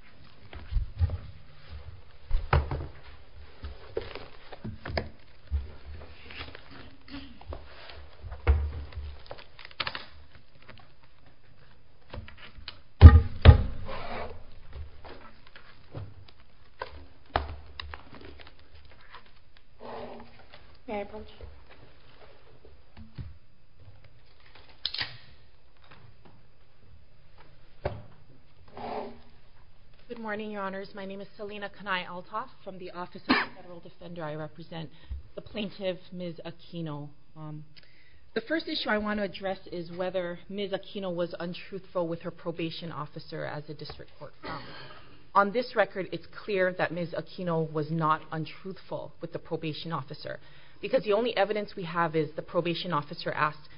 Other weapons Good morning, Your Honours. My name is Selina Kanae-Altof from the Office of the Federal Defender. I represent the plaintiff, Ms. Aquino. The first issue I want to address is whether Ms. Aquino was untruthful with her probation officer as a district court. On this record it's clear that Ms. Aquino was not untruthful with the probation officer because the only evidence we have is the probation officer asked,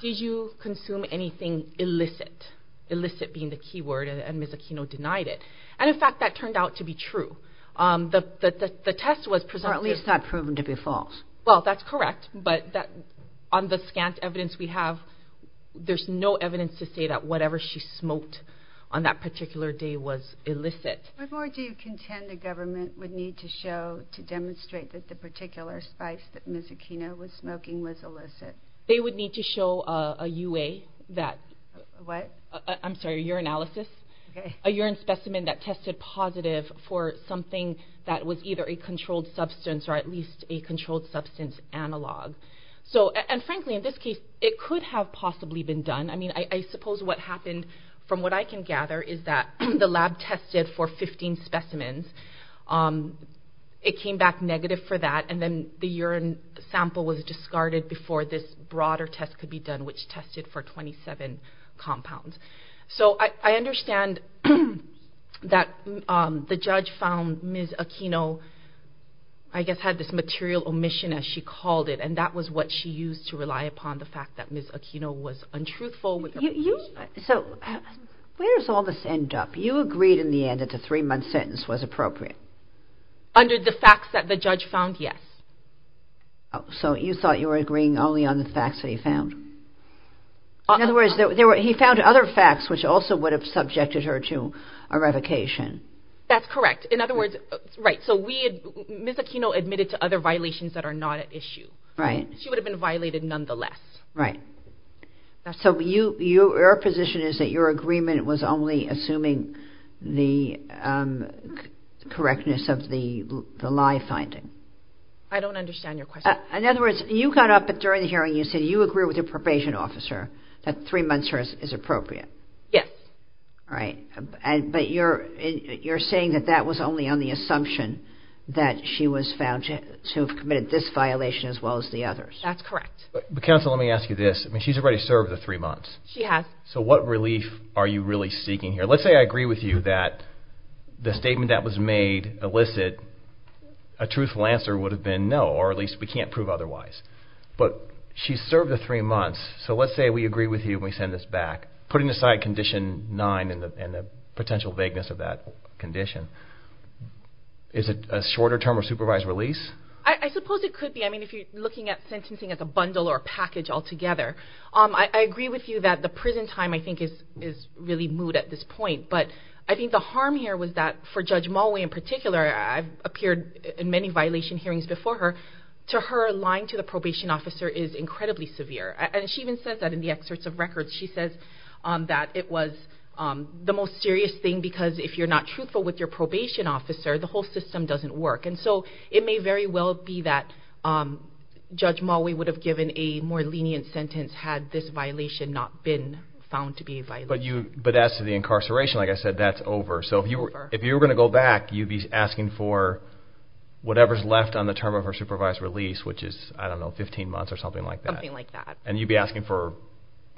did you consume anything illicit? Illicit being the key word and Ms. Aquino denied it. And in fact that turned out to be true. The test was presented... Or at least that proven to be false. Well that's correct but on the scant evidence we have there's no evidence to say that whatever she smoked on that particular day was illicit. What more do you contend the government would need to show to demonstrate that the particular spice that Ms. Aquino was smoking was illicit? They would need to show a U.A. that... What? I'm sorry, a urinalysis. A urine specimen that tested positive for something that was either a controlled substance or at least a controlled substance analogue. So and frankly in this case it could have possibly been done. I mean I suppose what happened from what I can gather is that the lab tested for 15 specimens. It came back negative for that and then the urine sample was discarded before this broader test could be done which tested for 27 compounds. So I understand that the judge found Ms. Aquino I guess had this material omission as she called it and that was what she used to rely upon the fact that Ms. Aquino was untruthful. So where does all this end up? You agreed in the end that the three-month sentence was appropriate. Under the facts that the judge found, yes. So you thought you were agreeing only on the facts that he found? In other words, he found other facts which also would have subjected her to a revocation. That's correct. In other words, right, so Ms. Aquino admitted to other violations that are not at issue. Right. She would have been violated nonetheless. Right. So your position is that your agreement was only assuming the correctness of the lie finding. I don't understand your question. In other words, you got up during the hearing and you said you agree with the probation officer that three months is appropriate. Yes. Right. But you're saying that that was only on the assumption that she was found to have committed this violation as well as the others. That's correct. Counsel, let me ask you this. She's already served the three months. She has. So what relief are you really seeking here? Let's say I agree with you that the statement that was made illicit, a truthful answer would have been no, or at least we can't prove otherwise. But she's served the three months, so let's say we agree with you when we send this back, putting aside condition nine and the potential vagueness of that condition, is it a shorter term of supervised release? I suppose it could be. If you're looking at sentencing as a bundle or package altogether, I agree with you that the prison time I think is really moot at this point. But I think the harm here was that for Judge Mulway in particular, I've appeared in many violation hearings before her, to her lying to the probation officer is incredibly severe. She even says that in the excerpts of records, she says that it was the most serious thing because if you're not truthful with your probation officer, the whole system doesn't work. So it may very well be that Judge Mulway would have given a more lenient sentence had this violation not been found to be a violation. But as to the incarceration, like I said, that's over. So if you were going to go back, you'd be asking for whatever's left on the term of her supervised release, which is, I don't know, 15 months or something like that? Something like that. And you'd be asking for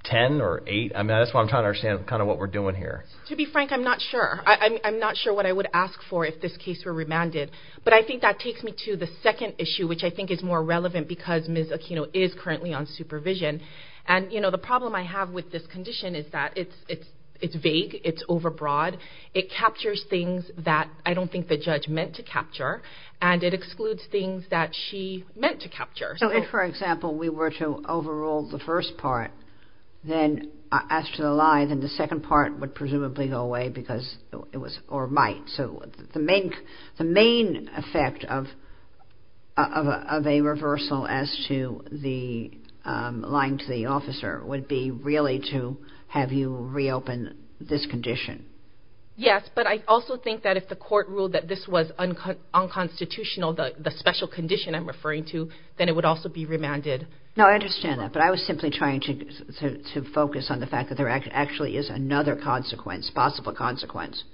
10 or 8? I mean, that's what I'm trying to understand kind of what we're doing here. To be frank, I'm not sure. I'm not sure what I would ask for if this case were remanded. But I think that takes me to the second issue, which I think is more relevant because Ms. Aquino is currently on supervision. And, you know, the problem I have with this condition is that it's vague. It's overbroad. It captures things that I don't think the judge meant to capture. And it excludes things that she meant to capture. So if, for example, we were to overrule the first part, then as to the lie, then the second part would presumably go away because it was, or might. So the main effect of a reversal as to the lying to the officer would be really to have you reopen this condition. Yes, but I also think that if the court ruled that this was unconstitutional, the special condition I'm referring to, then it would also be remanded. No, I understand that. But I was simply trying to focus on the fact that there actually is another consequence, possible consequence,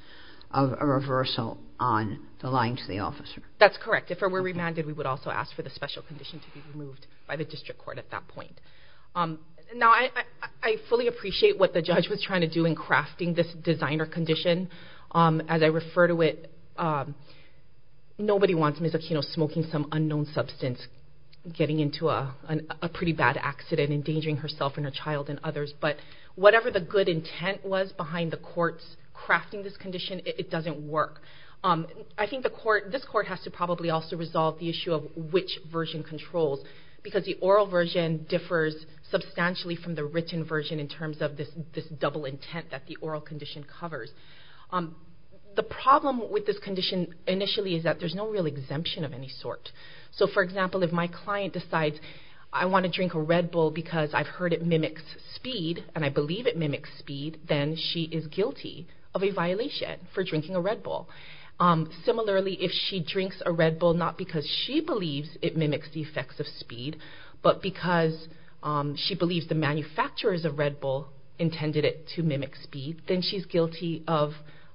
of a reversal on the lying to the officer. That's correct. If it were remanded, we would also ask for the special condition to be removed by the district court at that point. Now I fully appreciate what the judge was trying to do in crafting this designer condition. As I refer to it, nobody wants Ms. Aquino smoking some unknown substance, getting into a pretty bad accident, endangering herself and her child and others. But whatever the good intent was behind the court's crafting this condition, it doesn't work. I think the court, this court, has to probably also resolve the issue of which version controls. Because the oral version differs substantially from the written version in terms of this double intent that the oral condition covers. The problem with this condition initially is that there's no real exemption of any sort. So for example, if my client decides, I want to drink a Red Bull because I've heard it mimics speed, then she is guilty of a violation for drinking a Red Bull. Similarly, if she drinks a Red Bull not because she believes it mimics the effects of speed, but because she believes the manufacturers of Red Bull intended it to mimic speed, then she's guilty of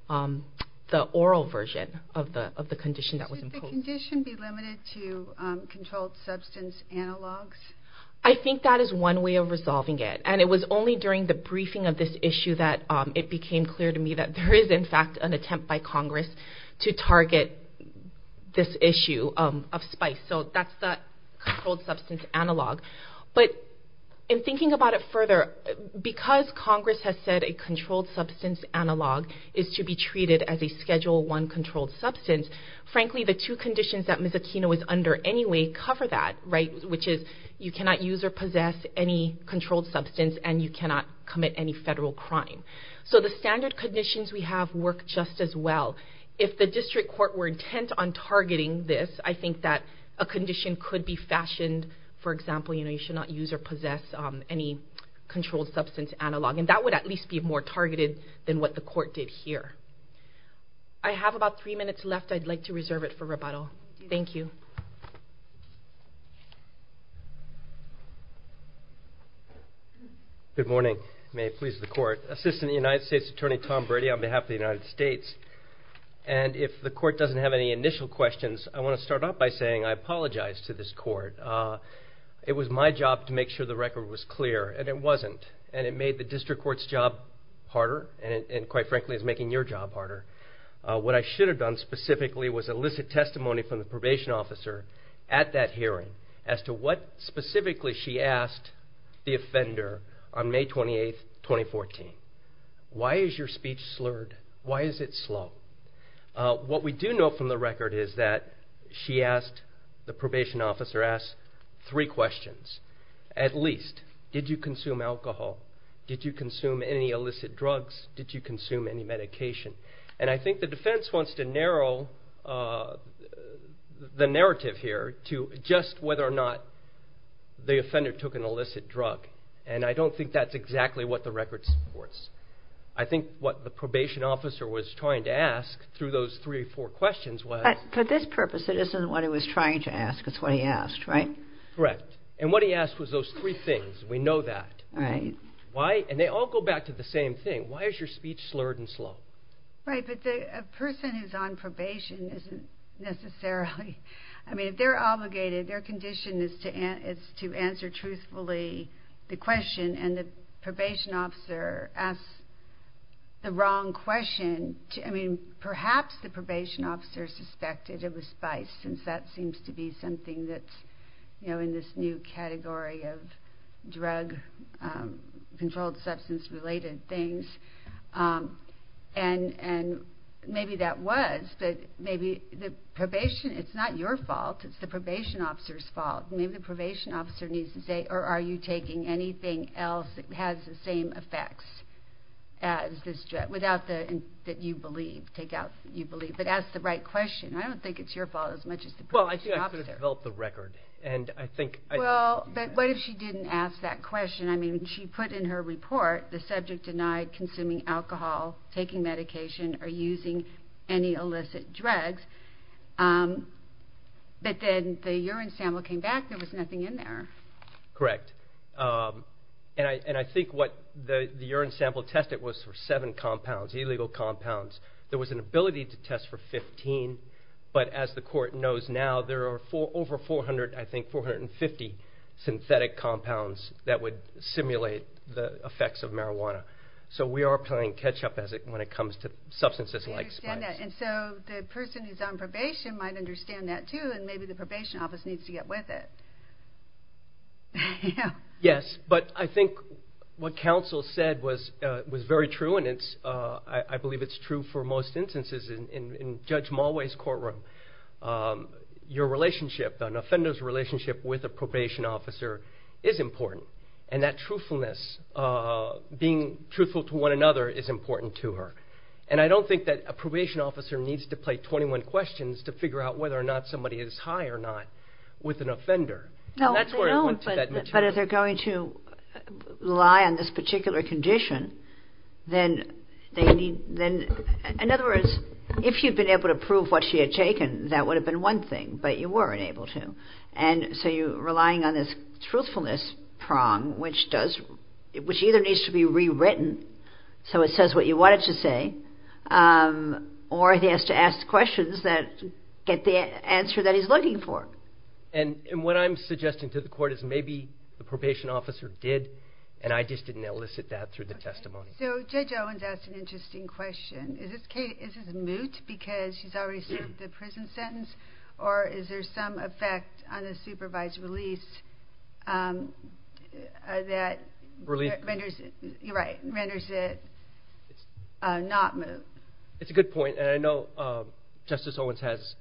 the oral version of the condition that was imposed. Should the condition be limited to controlled substance analogs? I think that is one way of resolving it. And it was only during the briefing of this issue that it became clear to me that there is in fact an attempt by Congress to target this issue of spice. So that's the controlled substance analog. But in thinking about it further, because Congress has said a controlled substance analog is to be treated as a Schedule I controlled substance, frankly the two conditions that you cannot use or possess any controlled substance and you cannot commit any federal crime. So the standard conditions we have work just as well. If the district court were intent on targeting this, I think that a condition could be fashioned, for example, you should not use or possess any controlled substance analog. And that would at least be more targeted than what the court did here. I have about three minutes left. I'd like to reserve it for rebuttal. Thank you. Good morning. May it please the court. Assistant United States Attorney Tom Brady on behalf of the United States. And if the court doesn't have any initial questions, I want to start off by saying I apologize to this court. It was my job to make sure the record was clear and it wasn't. And it made the district court's job harder and quite frankly it's making your job harder. What I should have done specifically was elicit testimony from the probation officer at that hearing as to what specifically she asked the offender on May 28, 2014. Why is your speech slurred? Why is it slow? What we do know from the record is that she asked, the probation officer asked, three questions. At least, did you consume alcohol? Did you consume any illicit drugs? Did you consume any medication? And I think the defense wants to narrow the narrative here to just whether or not the offender took an illicit drug. And I don't think that's exactly what the record supports. I think what the probation officer was trying to ask through those three or four questions was. But for this purpose it isn't what he was trying to ask. It's what he asked, right? Correct. And what he asked was those three things. We know that. Right. Why? And they all go back to the same thing. Why is your speech slurred and slow? Right. But a person who's on probation isn't necessarily, I mean, if they're obligated, their condition is to answer truthfully the question and the probation officer asks the wrong question. I mean, perhaps the probation officer suspected it was spice since that seems to be something that's, you know, in this new category of drug controlled substance related things. And maybe that was, but maybe the probation, it's not your fault. It's the probation officer's fault. Maybe the probation officer needs to say, or are you taking anything else that has the same effects as this drug without the, that you believe, take out, you believe, but ask the right question. I don't think it's your fault as much as the probation officer. Well, I think I could have developed the record. And I think, well, but what if she didn't ask that question? I mean, she put in her report the subject denied consuming alcohol, taking medication or using any illicit drugs. But then the urine sample came back. There was nothing in there. Correct. And I, and I think what the urine sample tested was for seven compounds, illegal compounds. There was an ability to test for 15, but as the court knows now, there are four over 400, I think 450 synthetic compounds that would simulate the effects of marijuana. So we are playing catch up as it, when it comes to substances like spice. And so the person who's on probation might understand that too. And maybe the probation office needs to get with it. Yes, but I think what counsel said was, was very true. And it's, I believe it's true for most instances in, in, in Judge Mulway's courtroom, your relationship, an offender's relationship with a probation officer is important. And that truthfulness, being truthful to one another is important to her. And I don't think that a probation officer needs to play 21 questions to figure out whether or not somebody is high or not with an offender. That's where it went But if they're going to rely on this particular condition, then they need, then in other words, if you'd been able to prove what she had taken, that would have been one thing, but you weren't able to. And so you relying on this truthfulness prong, which does, which either needs to be rewritten so it says what you want it to say, or he has to ask questions that get the answer that he's looking for. And what I'm suggesting to the court is maybe the probation officer did, and I just didn't elicit that through the testimony. So Judge Owens asked an interesting question. Is this case, is this moot because she's already served the prison sentence, or is there some effect on a supervised release that renders it, you're right, renders it not moot? It's a good point, and I know Justice Owens has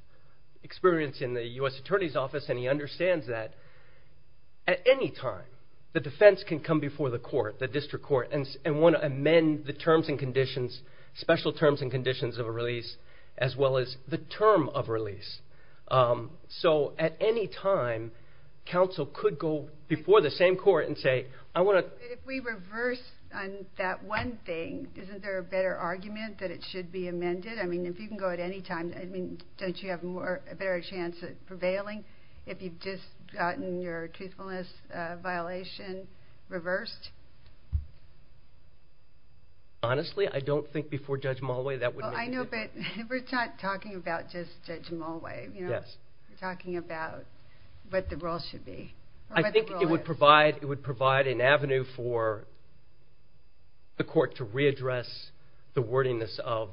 experience in the U.S. Attorney's Office and he understands that at any time the defense can come before the court, the district court, and want to amend the terms and conditions, special terms and conditions of a release as well as the term of release. So at any time, counsel could go before the same court and say, I want to And if we reverse on that one thing, isn't there a better argument that it should be amended? I mean, if you can go at any time, I mean, don't you have a better chance of prevailing if you've just gotten your truthfulness violation reversed? Honestly, I don't think before Judge Mulway that would make a difference. Well, I know, but we're not talking about just Judge Mulway, you know? Yes. We're talking about what the role should be. I think it would provide an avenue for the court to readdress the wordiness of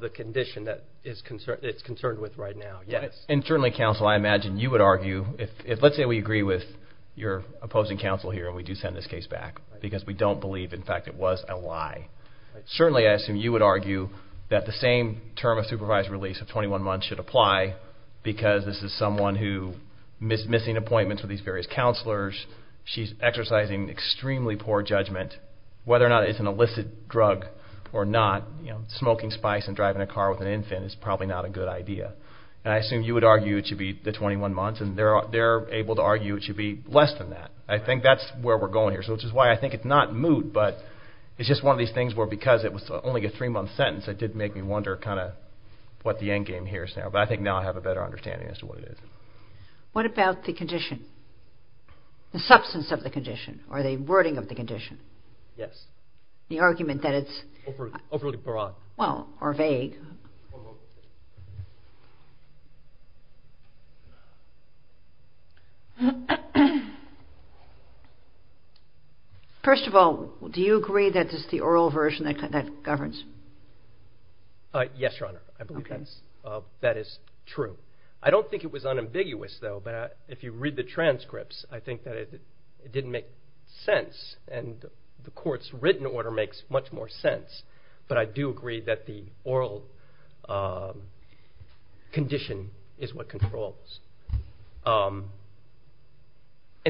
the condition that it's concerned with right now, yes. And certainly, counsel, I imagine you would argue, if let's say we agree with your opposing counsel here and we do send this case back because we don't believe in fact it was a lie, certainly I assume you would argue that the same term of supervised release of 21 months should apply because this is someone who is missing appointments with these various counselors. She's exercising extremely poor judgment. Whether or not it's an illicit drug or not, you know, smoking spice and driving a car with an infant is probably not a good idea. And I assume you would argue it should be the 21 months, and they're able to argue it should be less than that. I think that's where we're going here, which is why I think it's not moot, but it's just one of these things where because it was only a three-month sentence, it did make me wonder kind of what the end game here is now. But I think now I have a better understanding as to what it is. What about the condition? The substance of the condition, or the wording of the condition? Yes. The argument that it's... Overly broad. Well, or vague. Overly broad. First of all, do you agree that this is the oral version that governs? Yes, Your Honor. Okay. I believe that is true. I don't think it was unambiguous, though, but if you read the transcripts, I think that it didn't make sense, and the court's written order makes much more sense. But I do agree that the oral condition is what controls. And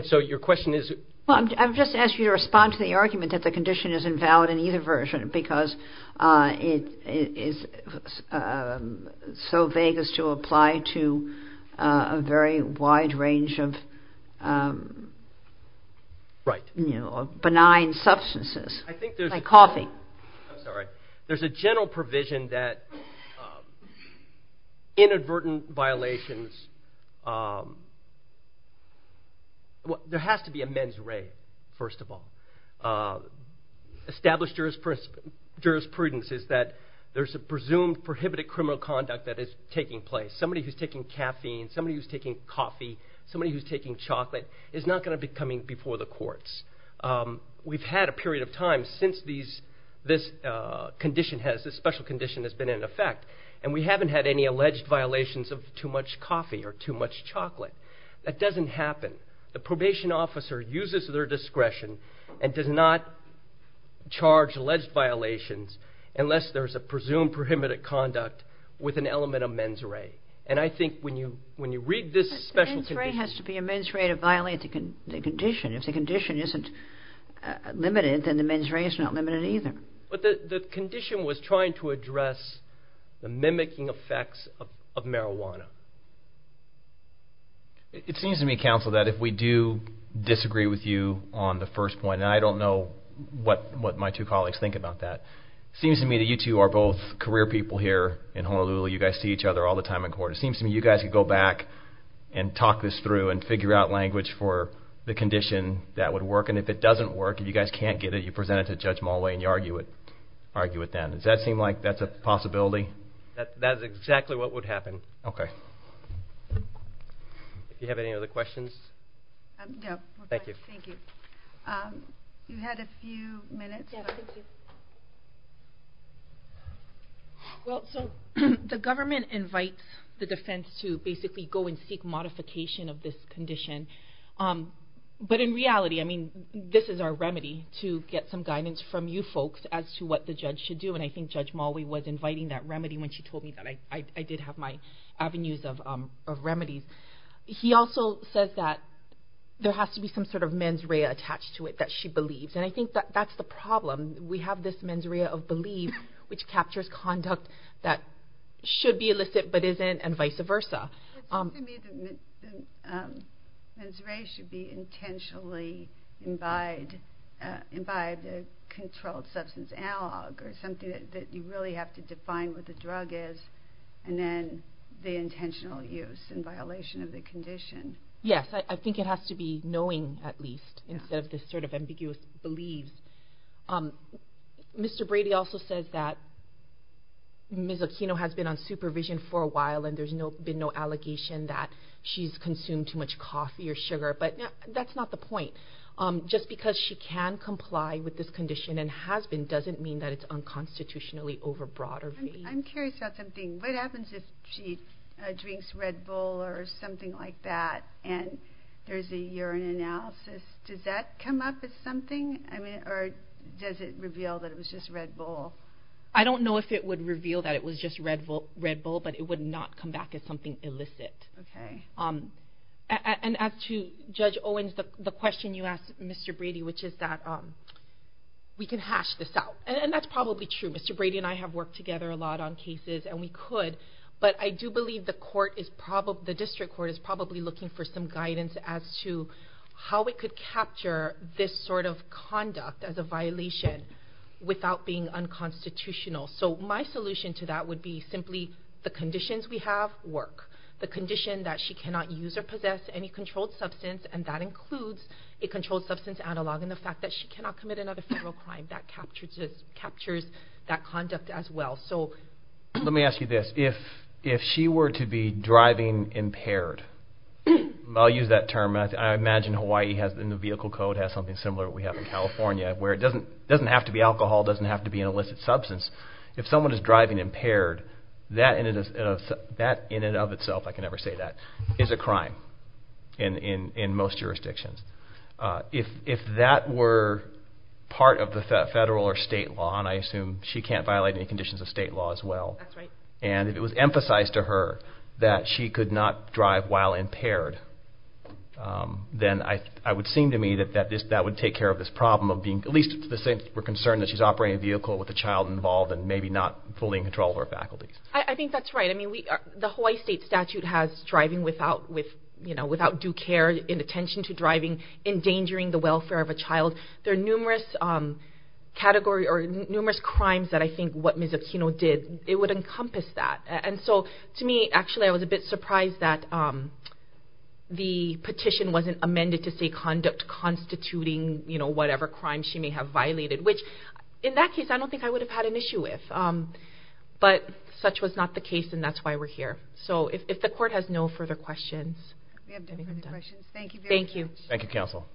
so your question is... Well, I've just asked you to respond to the argument that the condition is invalid in either version because it is so vague as to apply to a very wide range of benign substances. I think there's... Like coffee. I'm sorry. There's a general provision that inadvertent violations... There has to be a mens re, first of all. Established jurisprudence is that there's a presumed prohibited criminal conduct that is taking place. Somebody who's taking caffeine, somebody who's taking coffee, somebody who's taking chocolate is not going to be coming before the courts. We've had a period of time since this special condition has been in effect, and we haven't had any alleged violations of too much coffee or too much chocolate. That doesn't happen. The probation officer uses their discretion and does not charge alleged violations unless there's a presumed prohibited conduct with an element of mens re. And I think when you read this special condition... But the mens re has to be a mens re to violate the condition. If the condition isn't limited, then the mens re is not limited either. But the condition was trying to address the mimicking effects of marijuana. It seems to me, counsel, that if we do disagree with you on the first point, and I don't know what my two colleagues think about that, it seems to me that you two are both career people here in Honolulu. You guys see each other all the time in court. It seems to me you guys could go back and talk this through and figure out language for the condition that would work. And if it doesn't work, if you guys can't get it, you present it to Judge Mulway and you argue it then. Does that seem like that's a possibility? That is exactly what would happen. Okay. Do you have any other questions? No. Thank you. Thank you. You had a few minutes. Yeah, thank you. Well, so the government invites the defense to basically go and seek modification of this condition. But in reality, I mean, this is our remedy, to get some guidance from you folks as to what the judge should do. And I think Judge Mulway was inviting that remedy when she told me that I did have my avenues of remedies. He also says that there has to be some sort of mens rea attached to it that she believes. And I think that that's the problem. We have this mens rea of belief, which captures conduct that should be illicit but isn't, and vice versa. To me, the mens rea should be intentionally imbibed, imbibed controlled substance analog, or something that you really have to define what the drug is, and then the intentional use in violation of the condition. Yes, I think it has to be knowing, at least, instead of this sort of ambiguous belief. Mr. Brady also says that Ms. Aquino has been on supervision for a while and there's been no allegation that she's consumed too much coffee or sugar. But that's not the point. Just because she can comply with this condition and has been doesn't mean that it's unconstitutionally overbroad or vague. I'm curious about something. What happens if she drinks Red Bull or something like that, and there's a urine analysis? Does that come up as something? Or does it reveal that it was just Red Bull? I don't know if it would reveal that it was just Red Bull, but it would not come back as something illicit. As to Judge Owens, the question you asked Mr. Brady, which is that we can hash this out. And that's probably true. Mr. Brady and I have worked together a lot on cases, and we could. But I do believe the district court is probably looking for some guidance as to how it could capture this sort of conduct as a violation without being unconstitutional. So my solution to that would be simply the conditions we have work. The condition that she cannot use or possess any controlled substance, and that includes a controlled substance analog and the fact that she cannot commit another federal crime. That captures that conduct as well. Let me ask you this. If she were to be driving impaired, I'll use that term. I imagine Hawaii has in the vehicle code has something similar that we have in California where it doesn't have to be alcohol, doesn't have to be an illicit substance. If someone is driving impaired, that in and of itself, I can never say that, is a crime in most jurisdictions. If that were part of the federal or state law, and I assume she can't violate any conditions of state law as well, and if it was emphasized to her that she could not drive while impaired, then it would seem to me that that would take care of this problem, at least to the extent that we're concerned that she's operating a vehicle with a child involved and maybe not fully in control of her faculties. I think that's right. The Hawaii state statute has driving without due care, inattention to driving, endangering the welfare of a child. There are numerous crimes that I think what Ms. Aquino did, it would encompass that. To me, actually, I was a bit surprised that the petition wasn't amended to say conduct constituting whatever crime she may have violated, which in that case, I don't think I would have had an issue with. But such was not the case, and that's why we're here. So if the court has no further questions. We have no further questions. Thank you very much. Thank you, counsel.